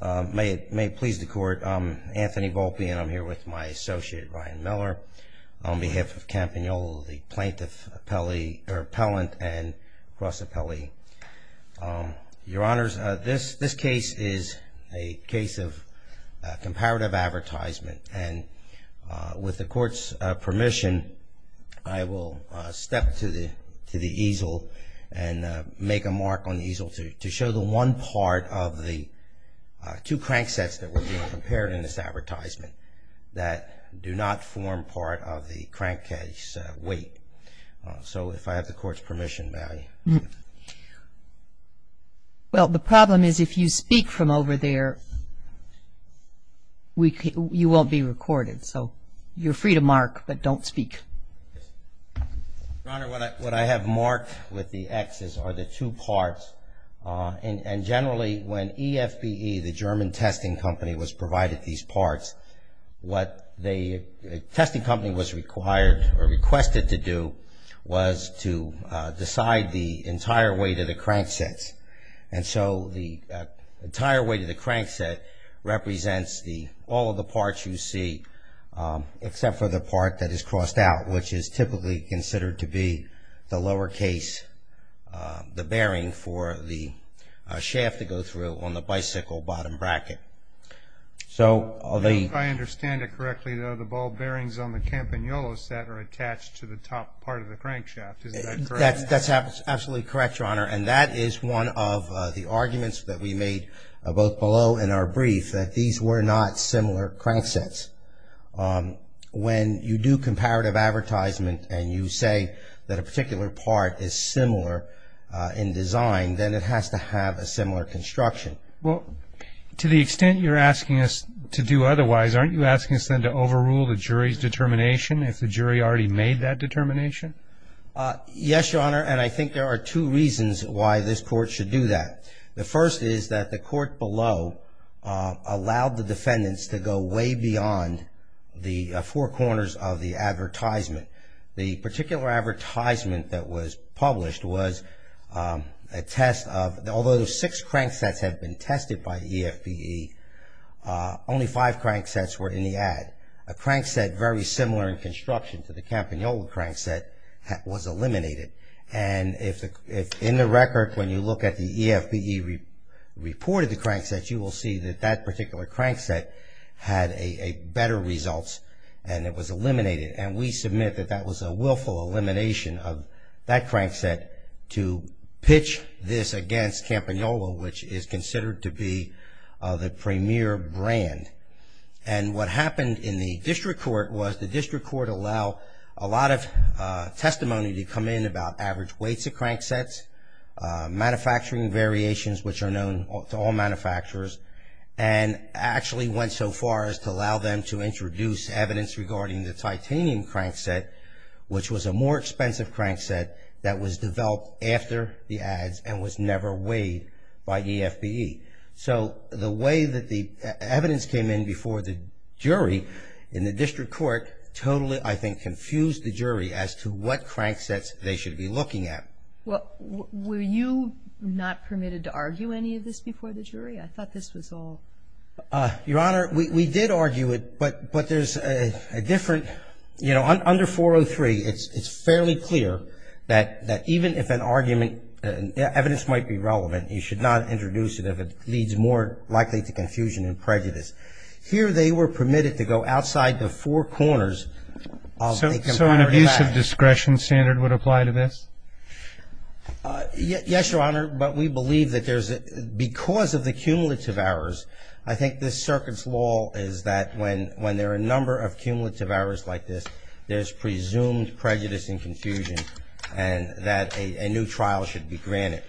May it please the court, I'm Anthony Volpe and I'm here with my associate Ryan Miller on behalf of Campagnolo, the plaintiff appellee, or appellant and cross appellee. Your honors, this case is a case of comparative advertisement and with the court's permission, I will step to the easel and make a mark on the easel to show the one part of the two crank sets that were being compared in this advertisement that do not form part of the crank case weight. So if I have the court's permission, may I? Well, the problem is if you speak from over there, you won't be recorded, so you're free to mark, but don't speak. Your honor, what I have marked with the X's are the two parts, and generally when EFBE, the German testing company, was provided these parts, what the testing company was required or requested to do was to decide the entire weight of the crank sets. And so the entire weight of the crank set represents all of the parts you see, except for the part that is crossed out, which is typically considered to be the lower case, the bearing for the shaft to go through on the bicycle bottom bracket. If I understand it correctly, the ball bearings on the Campagnolo set are attached to the top part of the crank shaft, is that correct? That's absolutely correct, your honor, and that is one of the arguments that we made both below and our brief, that these were not similar crank sets. When you do comparative advertisement and you say that a particular part is similar in design, then it has to have a similar construction. Well, to the extent you're asking us to do otherwise, aren't you asking us then to overrule the jury's determination if the jury already made that determination? Yes, your honor, and I think there are two reasons why this court should do that. The first is that the court below allowed the defendants to go way beyond the four corners of the advertisement. The particular advertisement that was published was a test of, although six crank sets have been tested by EFBE, only five crank sets were in the ad. A crank set very similar in construction to the Campagnolo crank set was eliminated. And if in the record when you look at the EFBE reported the crank set, you will see that that particular crank set had better results and it was eliminated. And we submit that that was a willful elimination of that crank set to pitch this against Campagnolo, which is considered to be the premier brand. And what happened in the district court was the district court allowed a lot of testimony to come in about average weights of crank sets, manufacturing variations, which are known to all manufacturers, and actually went so far as to allow them to introduce evidence regarding the titanium crank set, which was a more expensive crank set that was developed after the ads and was never weighed by EFBE. So the way that the evidence came in before the jury in the district court totally, I think, confused the jury as to what crank sets they should be looking at. Well, were you not permitted to argue any of this before the jury? I thought this was all. Your Honor, we did argue it, but there's a different, you know, under 403, it's fairly clear that even if an argument, evidence might be relevant, you should not introduce it if it leads more likely to confusion and prejudice. Here they were permitted to go outside the four corners. So an abuse of discretion standard would apply to this? Yes, Your Honor, but we believe that there's, because of the cumulative errors, I think this circuit's law is that when there are a number of cumulative errors like this, there's presumed prejudice and confusion and that a new trial should be granted.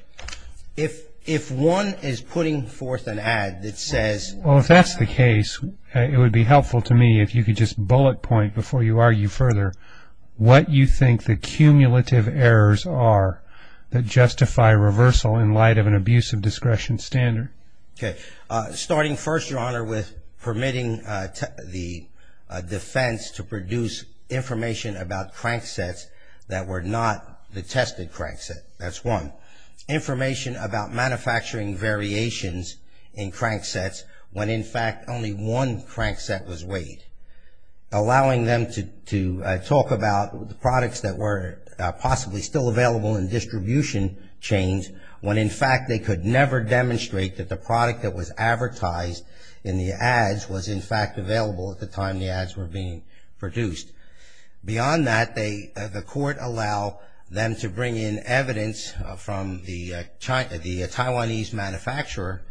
If one is putting forth an ad that says- Well, if that's the case, it would be helpful to me if you could just bullet point before you argue further what you think the cumulative errors are that justify reversal in light of an abuse of discretion standard. Okay. Starting first, Your Honor, with permitting the defense to produce information about crank sets that were not the tested crank set. That's one. Information about manufacturing variations in crank sets when, in fact, only one crank set was weighed. Allowing them to talk about the products that were possibly still available in distribution chains when, in fact, they could never demonstrate that the product that was advertised in the ads was, in fact, available at the time the ads were being produced. Beyond that, the court allowed them to bring in evidence from the Taiwanese manufacturer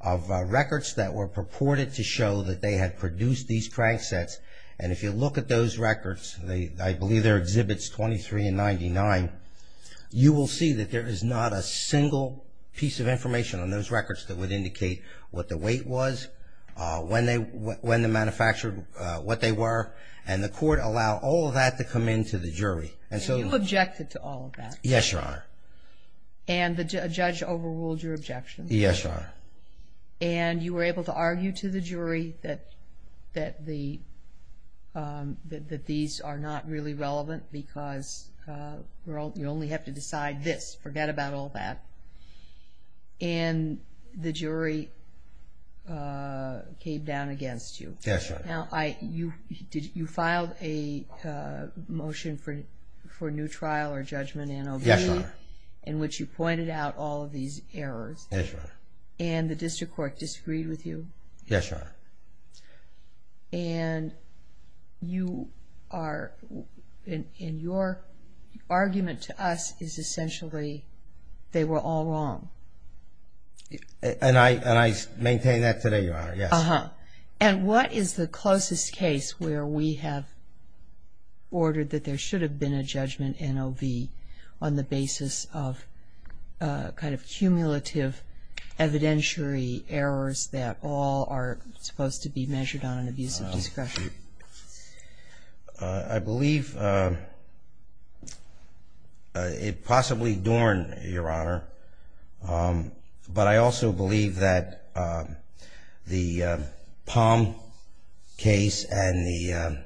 of records that were purported to show that they had produced these crank sets. And if you look at those records, I believe they're Exhibits 23 and 99, you will see that there is not a single piece of information on those records that would indicate what the weight was, when they manufactured what they were, and the court allowed all of that to come in to the jury. So you objected to all of that? Yes, Your Honor. And the judge overruled your objection? Yes, Your Honor. And you were able to argue to the jury that these are not really relevant because you only have to decide this. Forget about all that. And the jury came down against you. Yes, Your Honor. Now, you filed a motion for new trial or judgment in OV? Yes, Your Honor. In which you pointed out all of these errors. Yes, Your Honor. And the district court disagreed with you? Yes, Your Honor. And you are, and your argument to us is essentially they were all wrong. And I maintain that today, Your Honor, yes. And what is the closest case where we have ordered that there should have been a judgment in OV on the basis of kind of cumulative evidentiary errors that all are supposed to be measured on an abuse of discretion? I believe possibly Dorn, Your Honor, but I also believe that the Palm case and the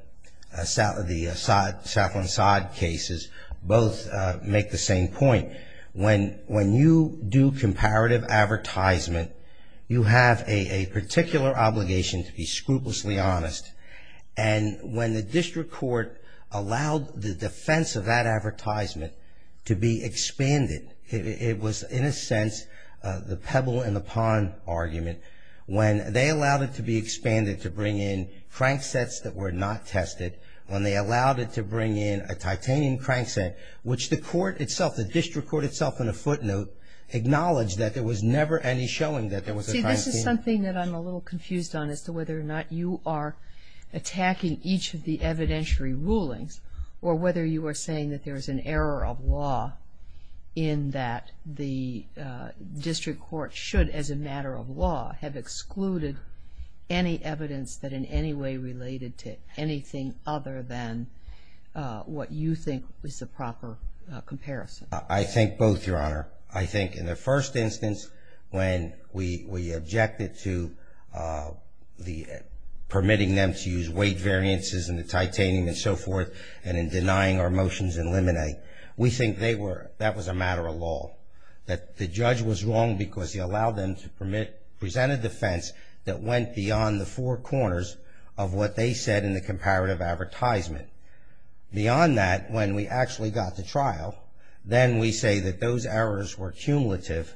Saffron-Sod cases, both make the same point. When you do comparative advertisement, you have a particular obligation to be scrupulously honest. And when the district court allowed the defense of that advertisement to be expanded, it was in a sense the pebble in the pond argument. When they allowed it to be expanded to bring in crank sets that were not tested, when they allowed it to bring in a titanium crank set, which the court itself, the district court itself in a footnote, acknowledged that there was never any showing that there was a crank set. See, this is something that I'm a little confused on as to whether or not you are attacking each of the evidentiary rulings or whether you are saying that there is an error of law in that the district court should, as a matter of law, have excluded any evidence that in any way related to anything other than what you think is the proper comparison. I think both, Your Honor. I think in the first instance when we objected to permitting them to use weight variances and the titanium and so forth and in denying our motions in limine, we think that was a matter of law. That the judge was wrong because he allowed them to present a defense that went beyond the four corners of what they said in the comparative advertisement. Beyond that, when we actually got to trial, then we say that those errors were cumulative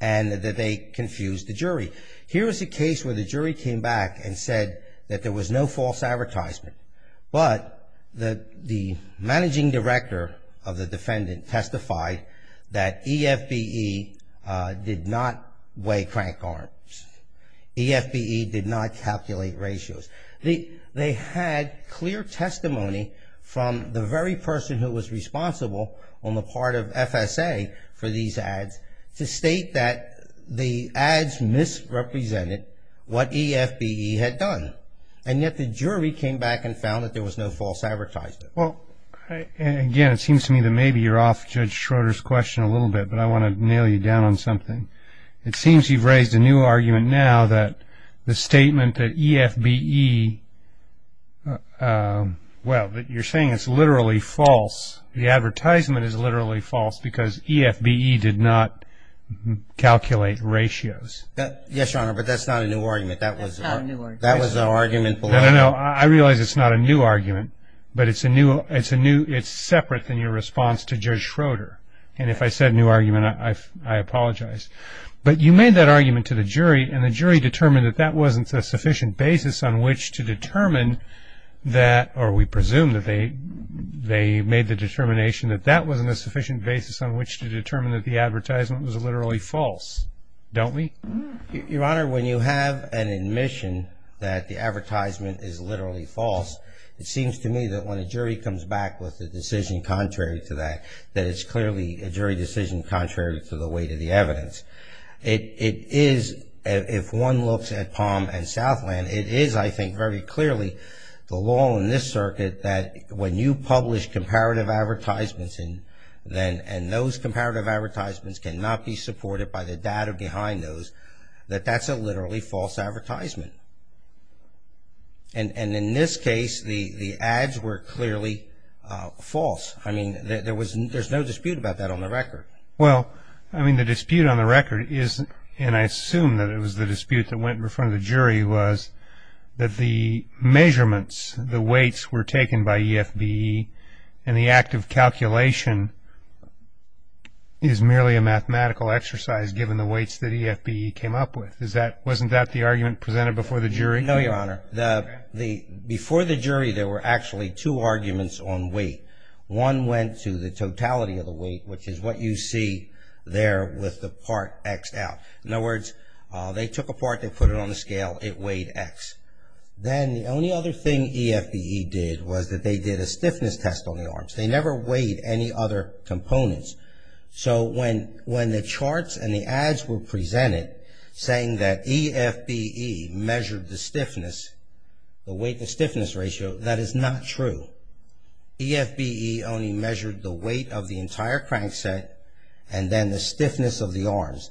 and that they confused the jury. Here is a case where the jury came back and said that there was no false advertisement, but the managing director of the defendant testified that EFBE did not weigh crank arms. EFBE did not calculate ratios. They had clear testimony from the very person who was responsible on the part of FSA for these ads to state that the ads misrepresented what EFBE had done. And yet the jury came back and found that there was no false advertisement. Again, it seems to me that maybe you're off Judge Schroeder's question a little bit, but I want to nail you down on something. It seems you've raised a new argument now that the statement that EFBE, well, you're saying it's literally false. The advertisement is literally false because EFBE did not calculate ratios. Yes, Your Honor, but that's not a new argument. That was the argument below. No, no, no. I realize it's not a new argument, but it's separate from your response to Judge Schroeder. And if I said new argument, I apologize. But you made that argument to the jury, and the jury determined that that wasn't a sufficient basis on which to determine that, or we presume that they made the determination that that wasn't a sufficient basis on which to determine that the advertisement was literally false. Don't we? Your Honor, when you have an admission that the advertisement is literally false, it seems to me that when a jury comes back with a decision contrary to that, that it's clearly a jury decision contrary to the weight of the evidence. It is, if one looks at Palm and Southland, it is, I think, very clearly the law in this circuit that when you publish comparative advertisements, and those comparative advertisements cannot be supported by the data behind those, that that's a literally false advertisement. And in this case, the ads were clearly false. I mean, there's no dispute about that on the record. Well, I mean, the dispute on the record is, and I assume that it was the dispute that went in front of the jury, that the measurements, the weights were taken by EFBE, and the act of calculation is merely a mathematical exercise given the weights that EFBE came up with. Wasn't that the argument presented before the jury? No, Your Honor. Before the jury, there were actually two arguments on weight. One went to the totality of the weight, which is what you see there with the part X out. In other words, they took a part, they put it on the scale, it weighed X. Then the only other thing EFBE did was that they did a stiffness test on the arms. They never weighed any other components. So when the charts and the ads were presented saying that EFBE measured the stiffness, the weight and stiffness ratio, that is not true. EFBE only measured the weight of the entire crankset and then the stiffness of the arms.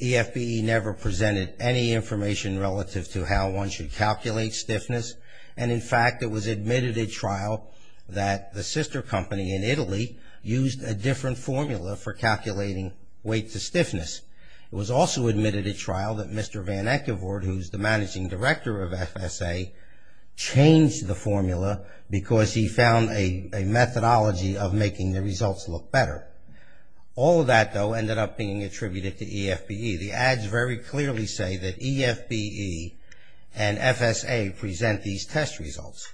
EFBE never presented any information relative to how one should calculate stiffness, and in fact it was admitted at trial that the sister company in Italy used a different formula for calculating weight to stiffness. It was also admitted at trial that Mr. Van Eckevoort, who is the managing director of FSA, changed the formula because he found a methodology of making the results look better. All of that, though, ended up being attributed to EFBE. The ads very clearly say that EFBE and FSA present these test results.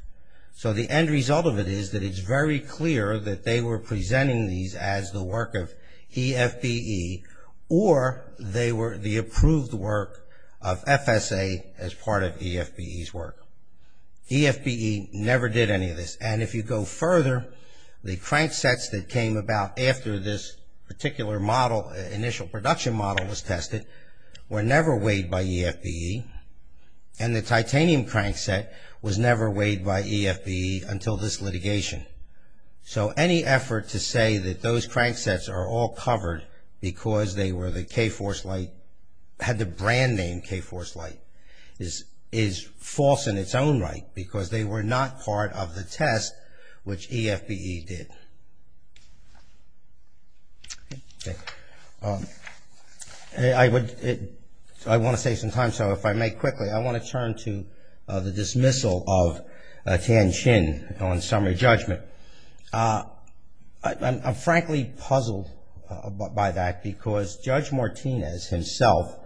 So the end result of it is that it's very clear that they were presenting these as the work of EFBE or they were the approved work of FSA as part of EFBE's work. EFBE never did any of this. And if you go further, the cranksets that came about after this particular model, initial production model was tested, were never weighed by EFBE and the titanium crankset was never weighed by EFBE until this litigation. So any effort to say that those cranksets are all covered because they were the K-Force Light, had the brand name K-Force Light, is false in its own right because they were not part of the test which EFBE did. I want to save some time, so if I may quickly, I want to turn to the dismissal of Tian Xin on summary judgment. I'm frankly puzzled by that because Judge Martinez himself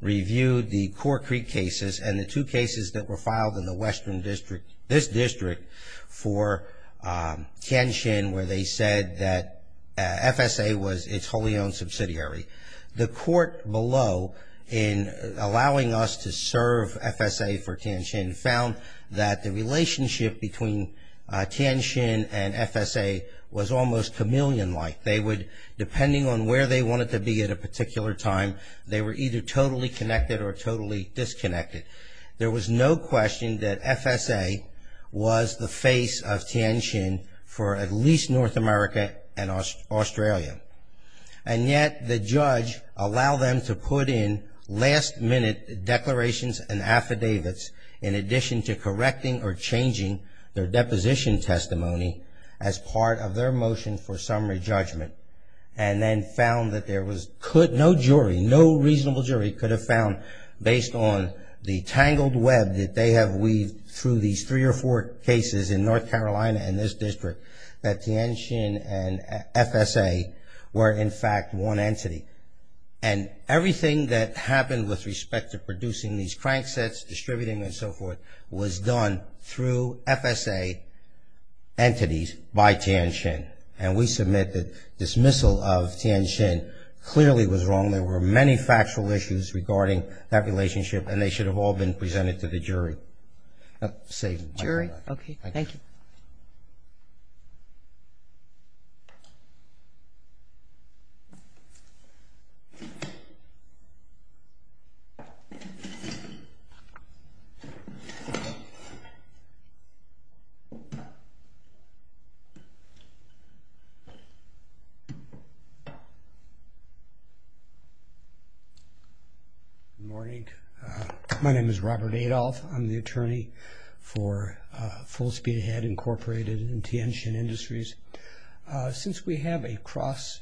reviewed the Cork Creek cases and the two cases that were filed in the western district, this district for Tian Xin where they said that FSA was its wholly owned subsidiary. The court below in allowing us to serve FSA for Tian Xin found that the relationship between Tian Xin and FSA was almost chameleon-like. They would, depending on where they wanted to be at a particular time, they were either totally connected or totally disconnected. There was no question that FSA was the face of Tian Xin for at least North America and Australia. And yet the judge allowed them to put in last-minute declarations and affidavits in addition to correcting or changing their deposition testimony as part of their motion for summary judgment and then found that there was, no jury, no reasonable jury could have found based on the tangled web that they have weaved through these three or four cases in North Carolina and this district that Tian Xin and FSA were in fact one entity. And everything that happened with respect to producing these crank sets, distributing and so forth was done through FSA entities by Tian Xin. And we submit that dismissal of Tian Xin clearly was wrong. There were many factual issues regarding that relationship and they should have all been presented to the jury. I'll save my time. Okay, thank you. Good morning. My name is Robert Adolph. I'm the attorney for Full Speed Ahead Incorporated and Tian Xin Industries. Since we have a cross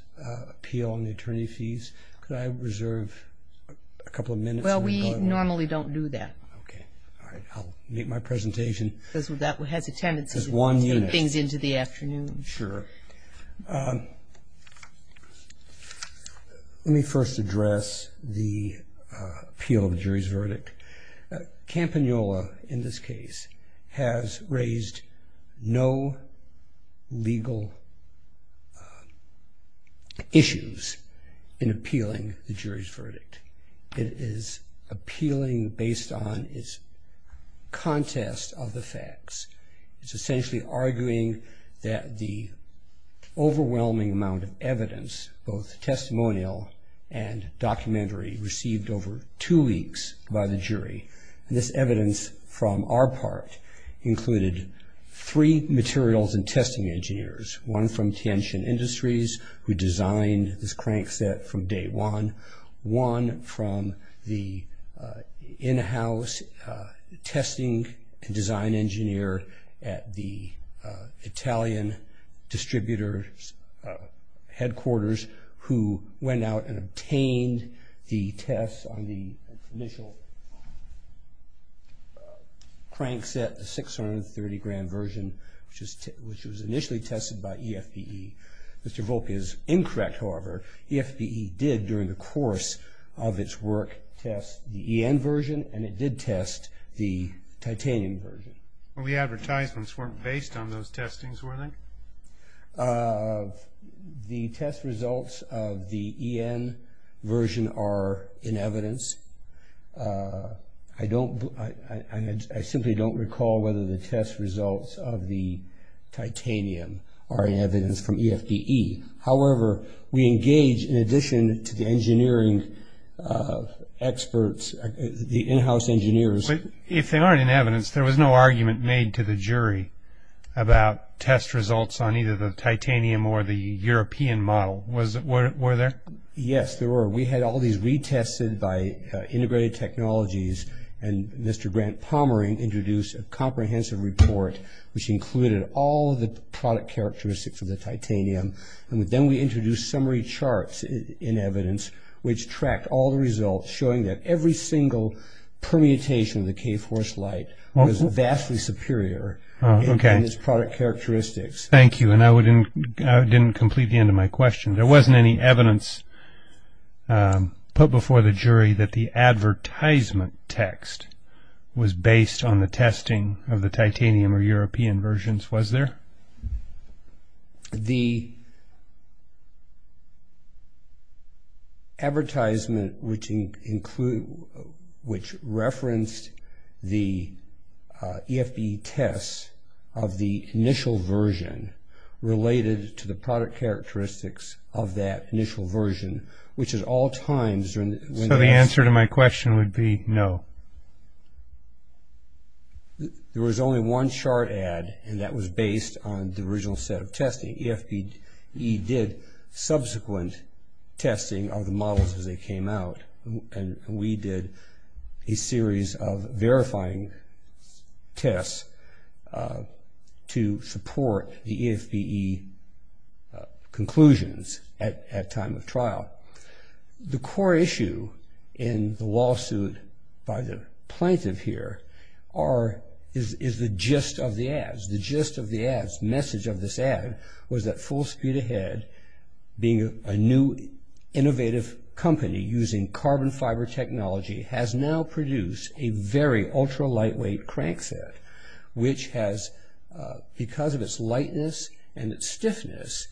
appeal on the attorney fees, could I reserve a couple of minutes? Well, we normally don't do that. Okay, all right. I'll make my presentation. That has a tendency to put things into the afternoon. Sure. Let me first address the appeal of the jury's verdict. Campagnolo, in this case, has raised no legal issues in appealing the jury's verdict. It is appealing based on its contest of the facts. It's essentially arguing that the overwhelming amount of evidence, both testimonial and documentary, received over two weeks by the jury. And this evidence from our part included three materials and testing engineers, one from Tian Xin Industries who designed this crank set from day one, one from the in-house testing and design engineer at the Italian distributor's headquarters who went out and obtained the tests on the initial crank set, the 630-gram version, which was initially tested by EFPE. Mr. Volk is incorrect, however. EFPE did, during the course of its work, test the EN version, and it did test the titanium version. Well, the advertisements weren't based on those testings, were they? The test results of the EN version are in evidence. I simply don't recall whether the test results of the titanium are in evidence from EFPE. However, we engage, in addition to the engineering experts, the in-house engineers. If they aren't in evidence, there was no argument made to the jury about test results on either the titanium or the European model, was it? Were there? Yes, there were. We had all these retested by integrated technologies, and Mr. Grant Palmer introduced a comprehensive report, which included all of the product characteristics of the titanium. And then we introduced summary charts in evidence, which tracked all the results, showing that every single permutation of the K-force light was vastly superior in its product characteristics. Thank you. And I didn't complete the end of my question. There wasn't any evidence put before the jury that the advertisement text was based on the testing of the titanium or European versions, was there? The advertisement, which referenced the EFPE tests of the initial version, related to the product characteristics of that initial version, which at all times when the answer to my question would be no. There was only one chart ad, and that was based on the original set of testing. EFPE did subsequent testing of the models as they came out, and we did a series of verifying tests to support the EFPE conclusions at time of trial. The core issue in the lawsuit by the plaintiff here is the gist of the ads. The gist of the ads, message of this ad, was that Full Speed Ahead, being a new innovative company using carbon fiber technology, has now produced a very ultra-lightweight crank set, which has, because of its lightness and its stiffness,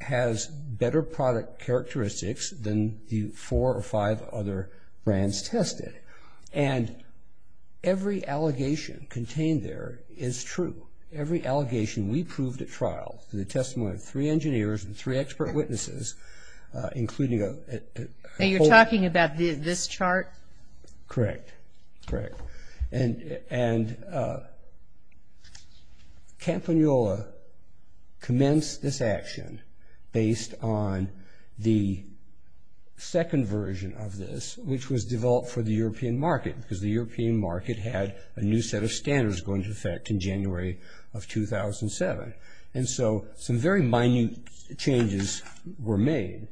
has better product characteristics than the four or five other brands tested. And every allegation contained there is true. Every allegation we proved at trial, through the testimony of three engineers and three expert witnesses, including a... And you're talking about this chart? Correct, correct. And Campagnolo commenced this action based on the second version of this, which was developed for the European market, because the European market had a new set of standards going into effect in January of 2007. And so some very minute changes were made.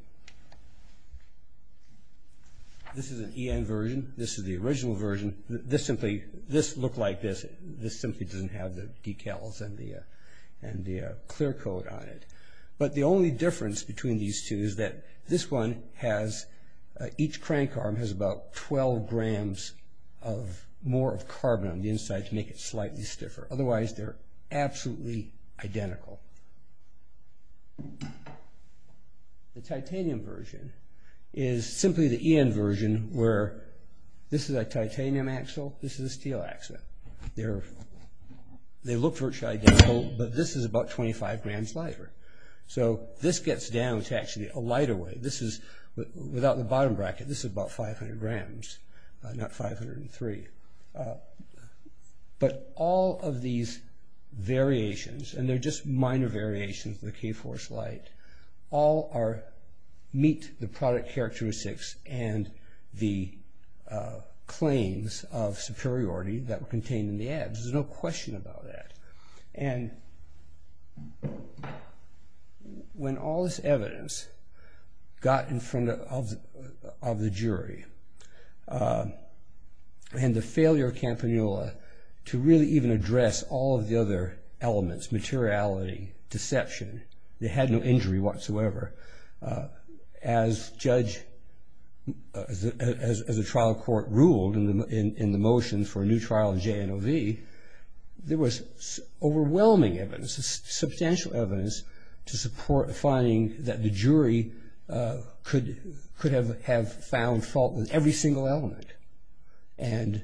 This is an EN version. This is the original version. This simply... This looked like this. This simply doesn't have the decals and the clear coat on it. But the only difference between these two is that this one has... Each crank arm has about 12 grams more of carbon on the inside to make it slightly stiffer. Otherwise, they're absolutely identical. The titanium version is simply the EN version, where this is a titanium axle, this is a steel axle. They look virtually identical, but this is about 25 grams lighter. So this gets down to actually a lighter weight. This is, without the bottom bracket, this is about 500 grams, not 503. But all of these variations, and they're just minor variations of the K-Force light, all meet the product characteristics and the claims of superiority that were contained in the ads. There's no question about that. And when all this evidence got in front of the jury, and the failure of Campanula to really even address all of the other elements, materiality, deception, they had no injury whatsoever. As a trial court ruled in the motion for a new trial of JNOV, there was overwhelming evidence, substantial evidence, to support a finding that the jury could have found fault with every single element. And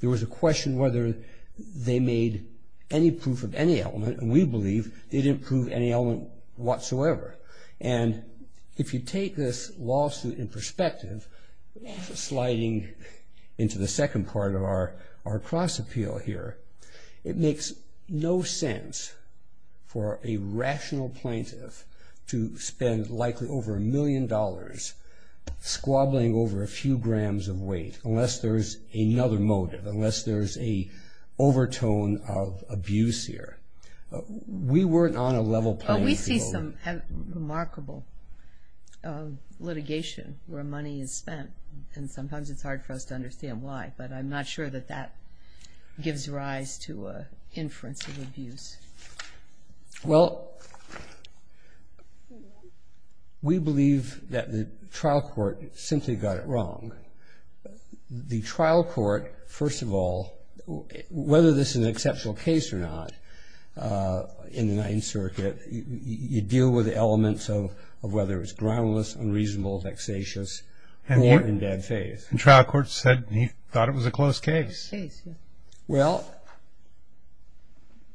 there was a question whether they made any proof of any element, and we believe they didn't prove any element whatsoever. And if you take this lawsuit in perspective, sliding into the second part of our cross-appeal here, it makes no sense for a rational plaintiff to spend likely over a million dollars squabbling over a few grams of weight unless there's another motive, unless there's an overtone of abuse here. We weren't on a level playing field. Well, we see some remarkable litigation where money is spent, and sometimes it's hard for us to understand why, but I'm not sure that that gives rise to an inference of abuse. Well, we believe that the trial court simply got it wrong. The trial court, first of all, whether this is an exceptional case or not, in the Ninth Circuit, you deal with elements of whether it's groundless, unreasonable, vexatious, or in bad faith. The trial court said he thought it was a close case. Well,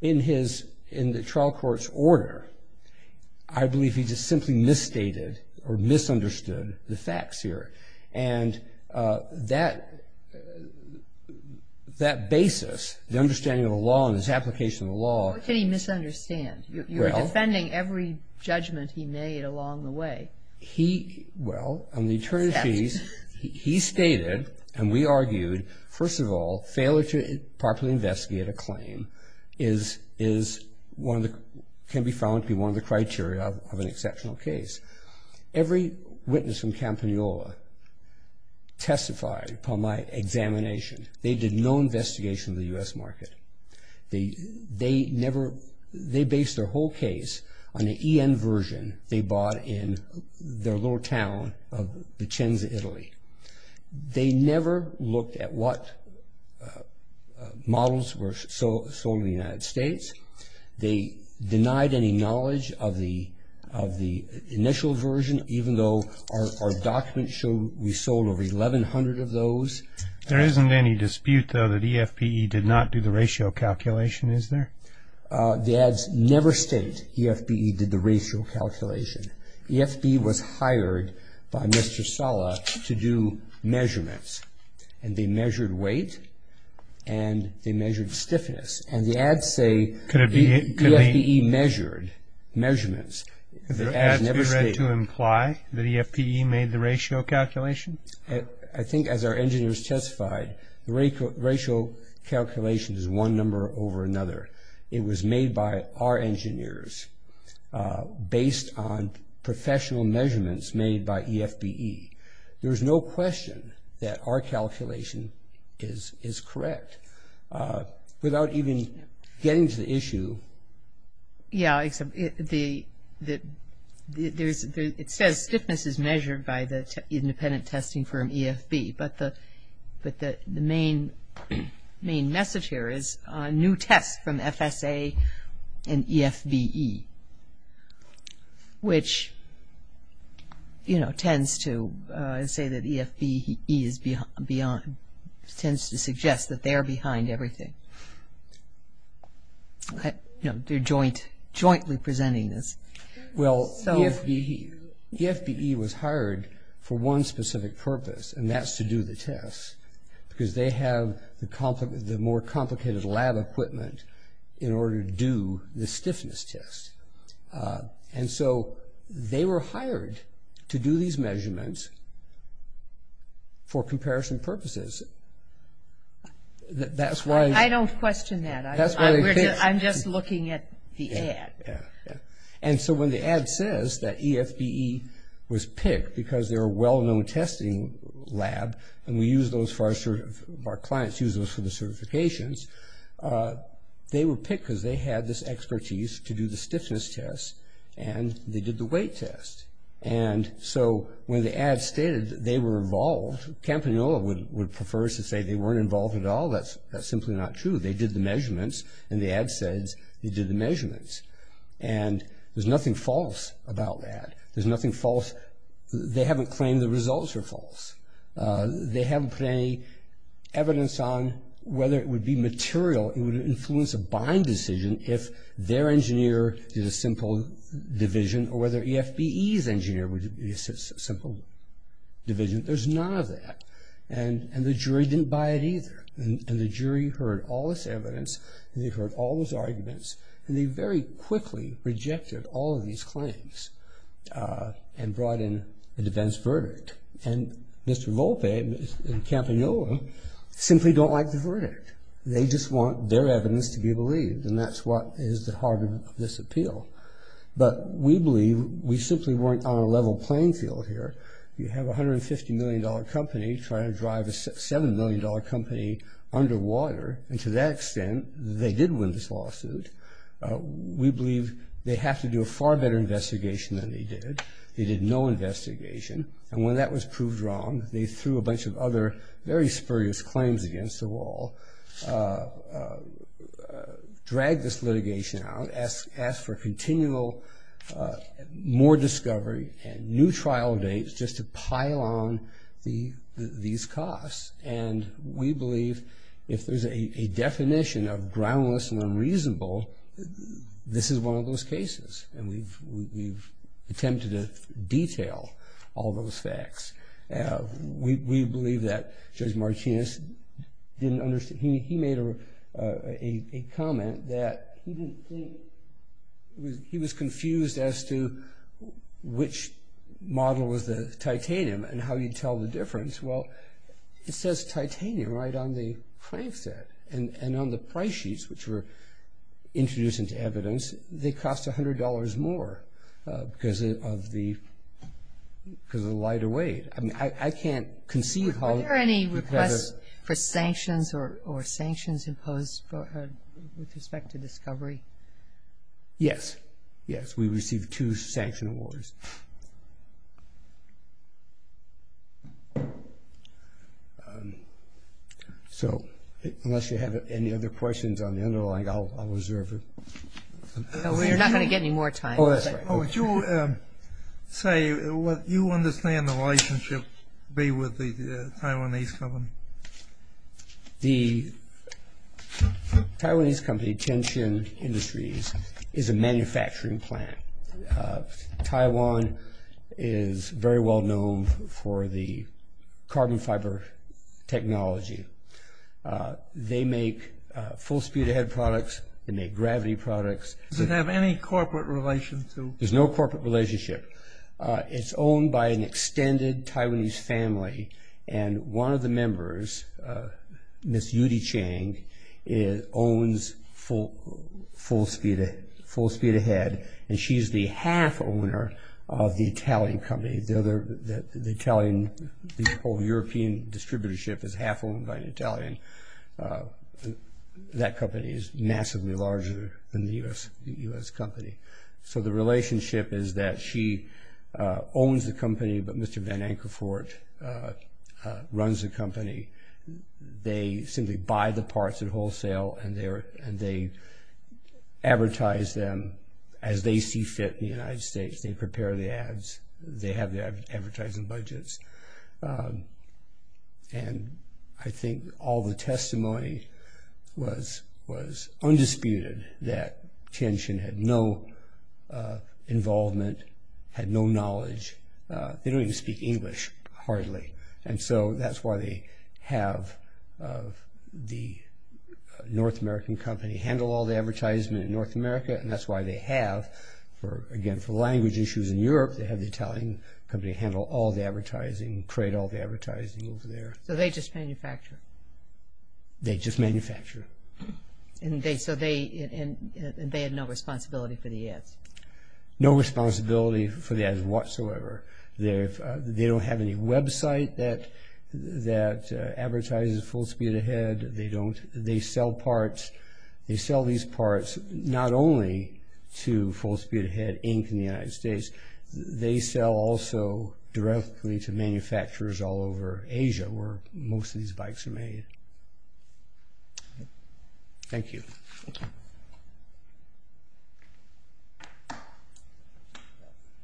in the trial court's order, I believe he just simply misstated or misunderstood the facts here. And that basis, the understanding of the law and its application of the law. What can he misunderstand? You're defending every judgment he made along the way. Well, on the attorneys' fees, he stated, and we argued, first of all, failure to properly investigate a claim can be found to be one of the criteria of an exceptional case. Every witness from Campagnolo testified upon my examination. They did no investigation of the U.S. market. They based their whole case on the EN version they bought in their little town of Vicenza, Italy. They never looked at what models were sold in the United States. They denied any knowledge of the initial version, even though our documents show we sold over 1,100 of those. There isn't any dispute, though, that EFPE did not do the ratio calculation, is there? The ads never state EFPE did the ratio calculation. EFPE was hired by Mr. Sala to do measurements, and they measured weight and they measured stiffness. And the ads say EFPE measured measurements. The ads were read to imply that EFPE made the ratio calculation? I think as our engineers testified, the ratio calculation is one number over another. It was made by our engineers based on professional measurements made by EFPE. There is no question that our calculation is correct. Without even getting to the issue. Yeah, it says stiffness is measured by the independent testing firm EFB, but the main message here is new tests from FSA and EFBE, which, you know, tends to say that EFBE is beyond, tends to suggest that they're behind everything. You know, they're jointly presenting this. Well, EFBE was hired for one specific purpose, and that's to do the tests, because they have the more complicated lab equipment in order to do the stiffness test. And so they were hired to do these measurements for comparison purposes. I don't question that. I'm just looking at the ad. And so when the ad says that EFBE was picked because they're a well-known testing lab and our clients use those for the certifications, they were picked because they had this expertise to do the stiffness test, and they did the weight test. And so when the ad stated they were involved, Campagnolo would prefer to say they weren't involved at all. That's simply not true. They did the measurements, and the ad says they did the measurements. And there's nothing false about that. There's nothing false. They haven't claimed the results are false. They haven't put any evidence on whether it would be material, it would influence a bind decision if their engineer did a simple division, or whether EFBE's engineer would do a simple division. There's none of that. And the jury didn't buy it either. And the jury heard all this evidence, and they heard all those arguments, and they very quickly rejected all of these claims and brought in a defense verdict. And Mr. Volpe and Campagnolo simply don't like the verdict. They just want their evidence to be believed, and that's what is the heart of this appeal. But we believe we simply weren't on a level playing field here. You have a $150 million company trying to drive a $7 million company underwater, and to that extent they did win this lawsuit. We believe they have to do a far better investigation than they did. They did no investigation. And when that was proved wrong, they threw a bunch of other very spurious claims against the wall, dragged this litigation out, asked for continual more discovery and new trial dates just to pile on these costs. And we believe if there's a definition of groundless and unreasonable, this is one of those cases. And we've attempted to detail all those facts. We believe that Judge Martinez didn't understand. He made a comment that he was confused as to which model was the titanium and how you'd tell the difference. Well, it says titanium right on the price set. And on the price sheets, which were introduced into evidence, they cost $100 more because of the lighter weight. I mean, I can't conceive how. Were there any requests for sanctions or sanctions imposed with respect to discovery? Yes. Yes, we received two sanction awards. So unless you have any other questions on the underlying, I'll reserve it. No, we're not going to get any more time. Oh, that's right. Would you say what you understand the relationship be with the Taiwanese company? The Taiwanese company, Tenshin Industries, is a manufacturing plant. Taiwan is very well known for the carbon fiber technology. They make full-speed-ahead products. They make gravity products. Does it have any corporate relation to? There's no corporate relationship. It's owned by an extended Taiwanese family. And one of the members, Ms. Yudi Chang, owns Full Speed Ahead, and she's the half-owner of the Italian company. The Italian, the whole European distributorship is half-owned by an Italian. That company is massively larger than the U.S. company. But Mr. Van Ankervoort runs the company. They simply buy the parts at wholesale, and they advertise them as they see fit in the United States. They prepare the ads. They have the advertising budgets. And I think all the testimony was undisputed that Tenshin had no involvement, had no knowledge. They don't even speak English, hardly. And so that's why they have the North American company handle all the advertisement in North America, and that's why they have, again, for language issues in Europe, they have the Italian company handle all the advertising, create all the advertising over there. So they just manufacture? They just manufacture. And they had no responsibility for the ads? No responsibility for the ads whatsoever. They don't have any website that advertises Full Speed Ahead. They sell parts. They sell these parts not only to Full Speed Ahead, Inc. in the United States. They sell also directly to manufacturers all over Asia, where most of these bikes are made. Thank you.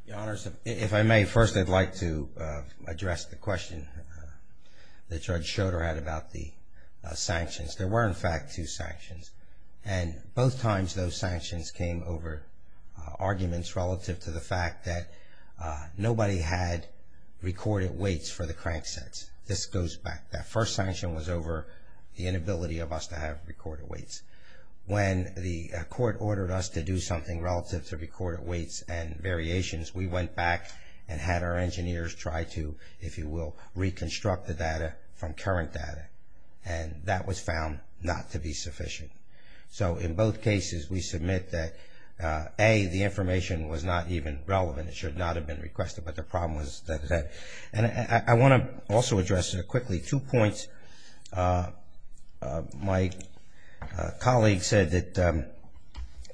Your Honors, if I may, first I'd like to address the question that Judge Schroeder had about the sanctions. There were, in fact, two sanctions, and both times those sanctions came over arguments relative to the fact that nobody had recorded waits for the crank sets. This goes back. That first sanction was over the inability of us to have recorded waits. When the court ordered us to do something relative to recorded waits and variations, we went back and had our engineers try to, if you will, reconstruct the data from current data. And that was found not to be sufficient. So in both cases we submit that, A, the information was not even relevant. It should not have been requested, but the problem was that it had. And I want to also address quickly two points. My colleague said that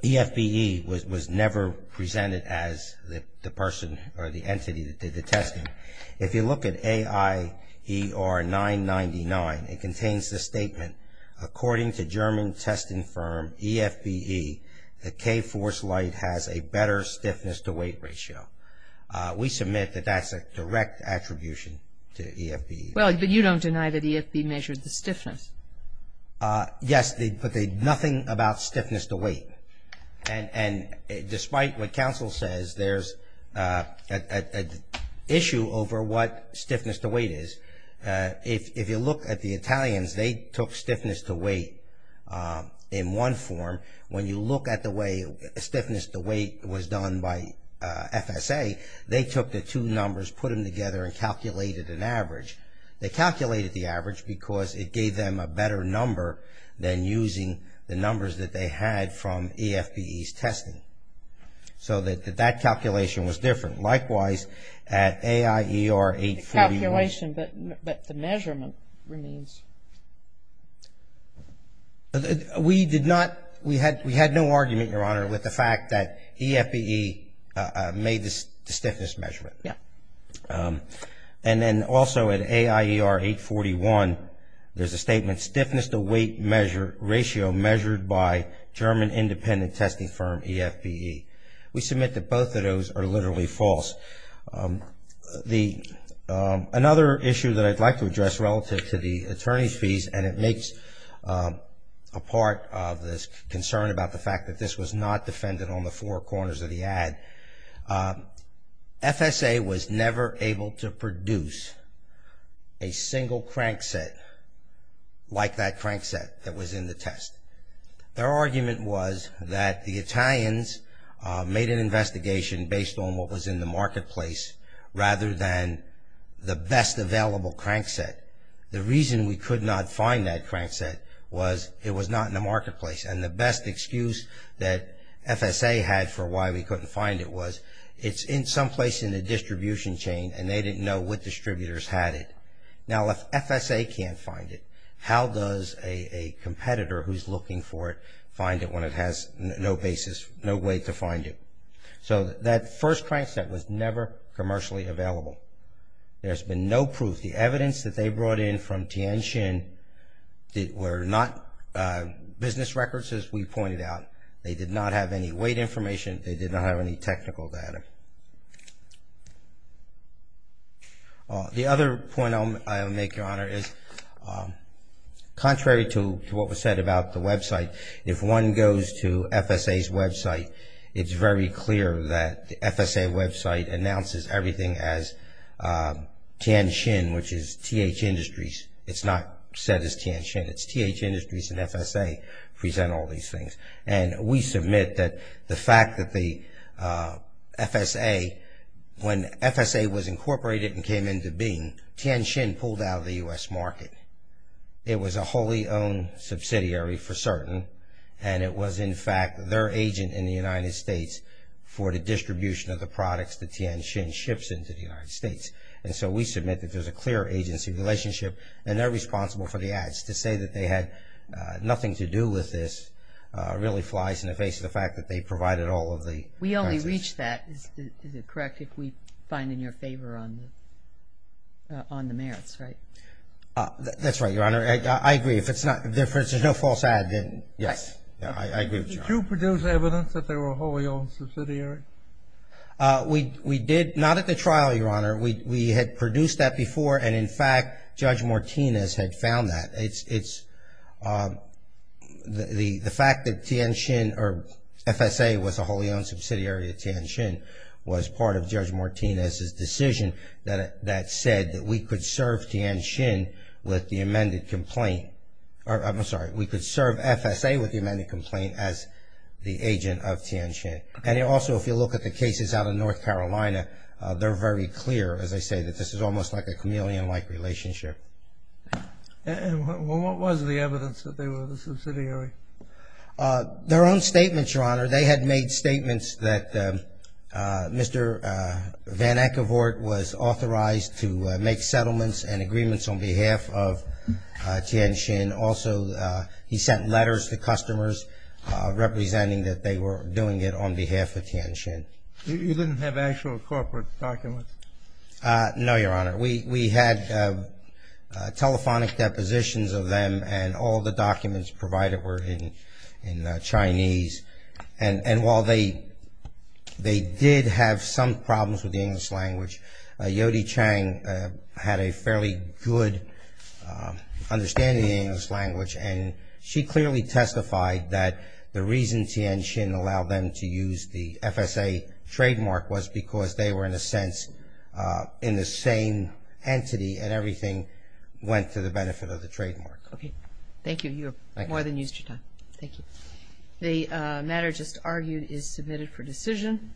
EFBE was never presented as the person or the entity that did the testing. If you look at AIER 999, it contains the statement, according to German testing firm EFBE, the K-Force light has a better stiffness-to-weight ratio. We submit that that's a direct attribution to EFBE. Well, but you don't deny that EFBE measured the stiffness. Yes, but nothing about stiffness-to-weight. And despite what counsel says, there's an issue over what stiffness-to-weight is. If you look at the Italians, they took stiffness-to-weight in one form. When you look at the way stiffness-to-weight was done by FSA, they took the two numbers, put them together, and calculated an average. They calculated the average because it gave them a better number than using the numbers that they had from EFBE's testing. So that calculation was different. Likewise, at AIER 841. Calculation, but the measurement remains. We did not, we had no argument, Your Honor, with the fact that EFBE made the stiffness measurement. And then also at AIER 841, there's a statement, stiffness-to-weight ratio measured by German independent testing firm EFBE. We submit that both of those are literally false. Another issue that I'd like to address relative to the attorney's fees, and it makes a part of this concern about the fact that this was not defended on the four corners of the ad, FSA was never able to produce a single crankset like that crankset that was in the test. Their argument was that the Italians made an investigation based on what was in the marketplace rather than the best available crankset. The reason we could not find that crankset was it was not in the marketplace. And the best excuse that FSA had for why we couldn't find it was it's someplace in the distribution chain and they didn't know what distributors had it. Now if FSA can't find it, how does a competitor who's looking for it find it when it has no basis, no way to find it? So that first crankset was never commercially available. There's been no proof. The evidence that they brought in from Tianxin were not business records as we pointed out. They did not have any weight information. They did not have any technical data. The other point I'll make, Your Honor, is contrary to what was said about the website, if one goes to FSA's website, it's very clear that the FSA website announces everything as Tianxin, which is TH Industries. It's not said as Tianxin. It's TH Industries and FSA present all these things. And we submit that the fact that the FSA, when FSA was incorporated and came into being, Tianxin pulled out of the U.S. market. It was a wholly owned subsidiary for certain, and it was in fact their agent in the United States for the distribution of the products that Tianxin ships into the United States. And so we submit that there's a clear agency relationship and they're responsible for the ads. To say that they had nothing to do with this really flies in the face of the fact that they provided all of the We only reached that, is it correct, if we find in your favor on the merits, right? That's right, Your Honor. I agree. If there's no false ad, then yes. Did you produce evidence that they were a wholly owned subsidiary? We did not at the trial, Your Honor. We had produced that before, and in fact, Judge Martinez had found that. The fact that Tianxin or FSA was a wholly owned subsidiary of Tianxin was part of Judge Martinez's decision that said that we could serve Tianxin with the amended complaint. I'm sorry, we could serve FSA with the amended complaint as the agent of Tianxin. And also, if you look at the cases out of North Carolina, they're very clear, as they say, that this is almost like a chameleon-like relationship. And what was the evidence that they were the subsidiary? Their own statements, Your Honor. They had made statements that Mr. Van Eckevort was authorized to make settlements and agreements on behalf of Tianxin. And also, he sent letters to customers representing that they were doing it on behalf of Tianxin. You didn't have actual corporate documents? No, Your Honor. We had telephonic depositions of them, and all the documents provided were in Chinese. And while they did have some problems with the English language, Yodi Chang had a fairly good understanding of the English language, and she clearly testified that the reason Tianxin allowed them to use the FSA trademark was because they were, in a sense, in the same entity, and everything went to the benefit of the trademark. Okay. Thank you. Your Honor, you have more than used your time. Thank you. The matter just argued is submitted for decision.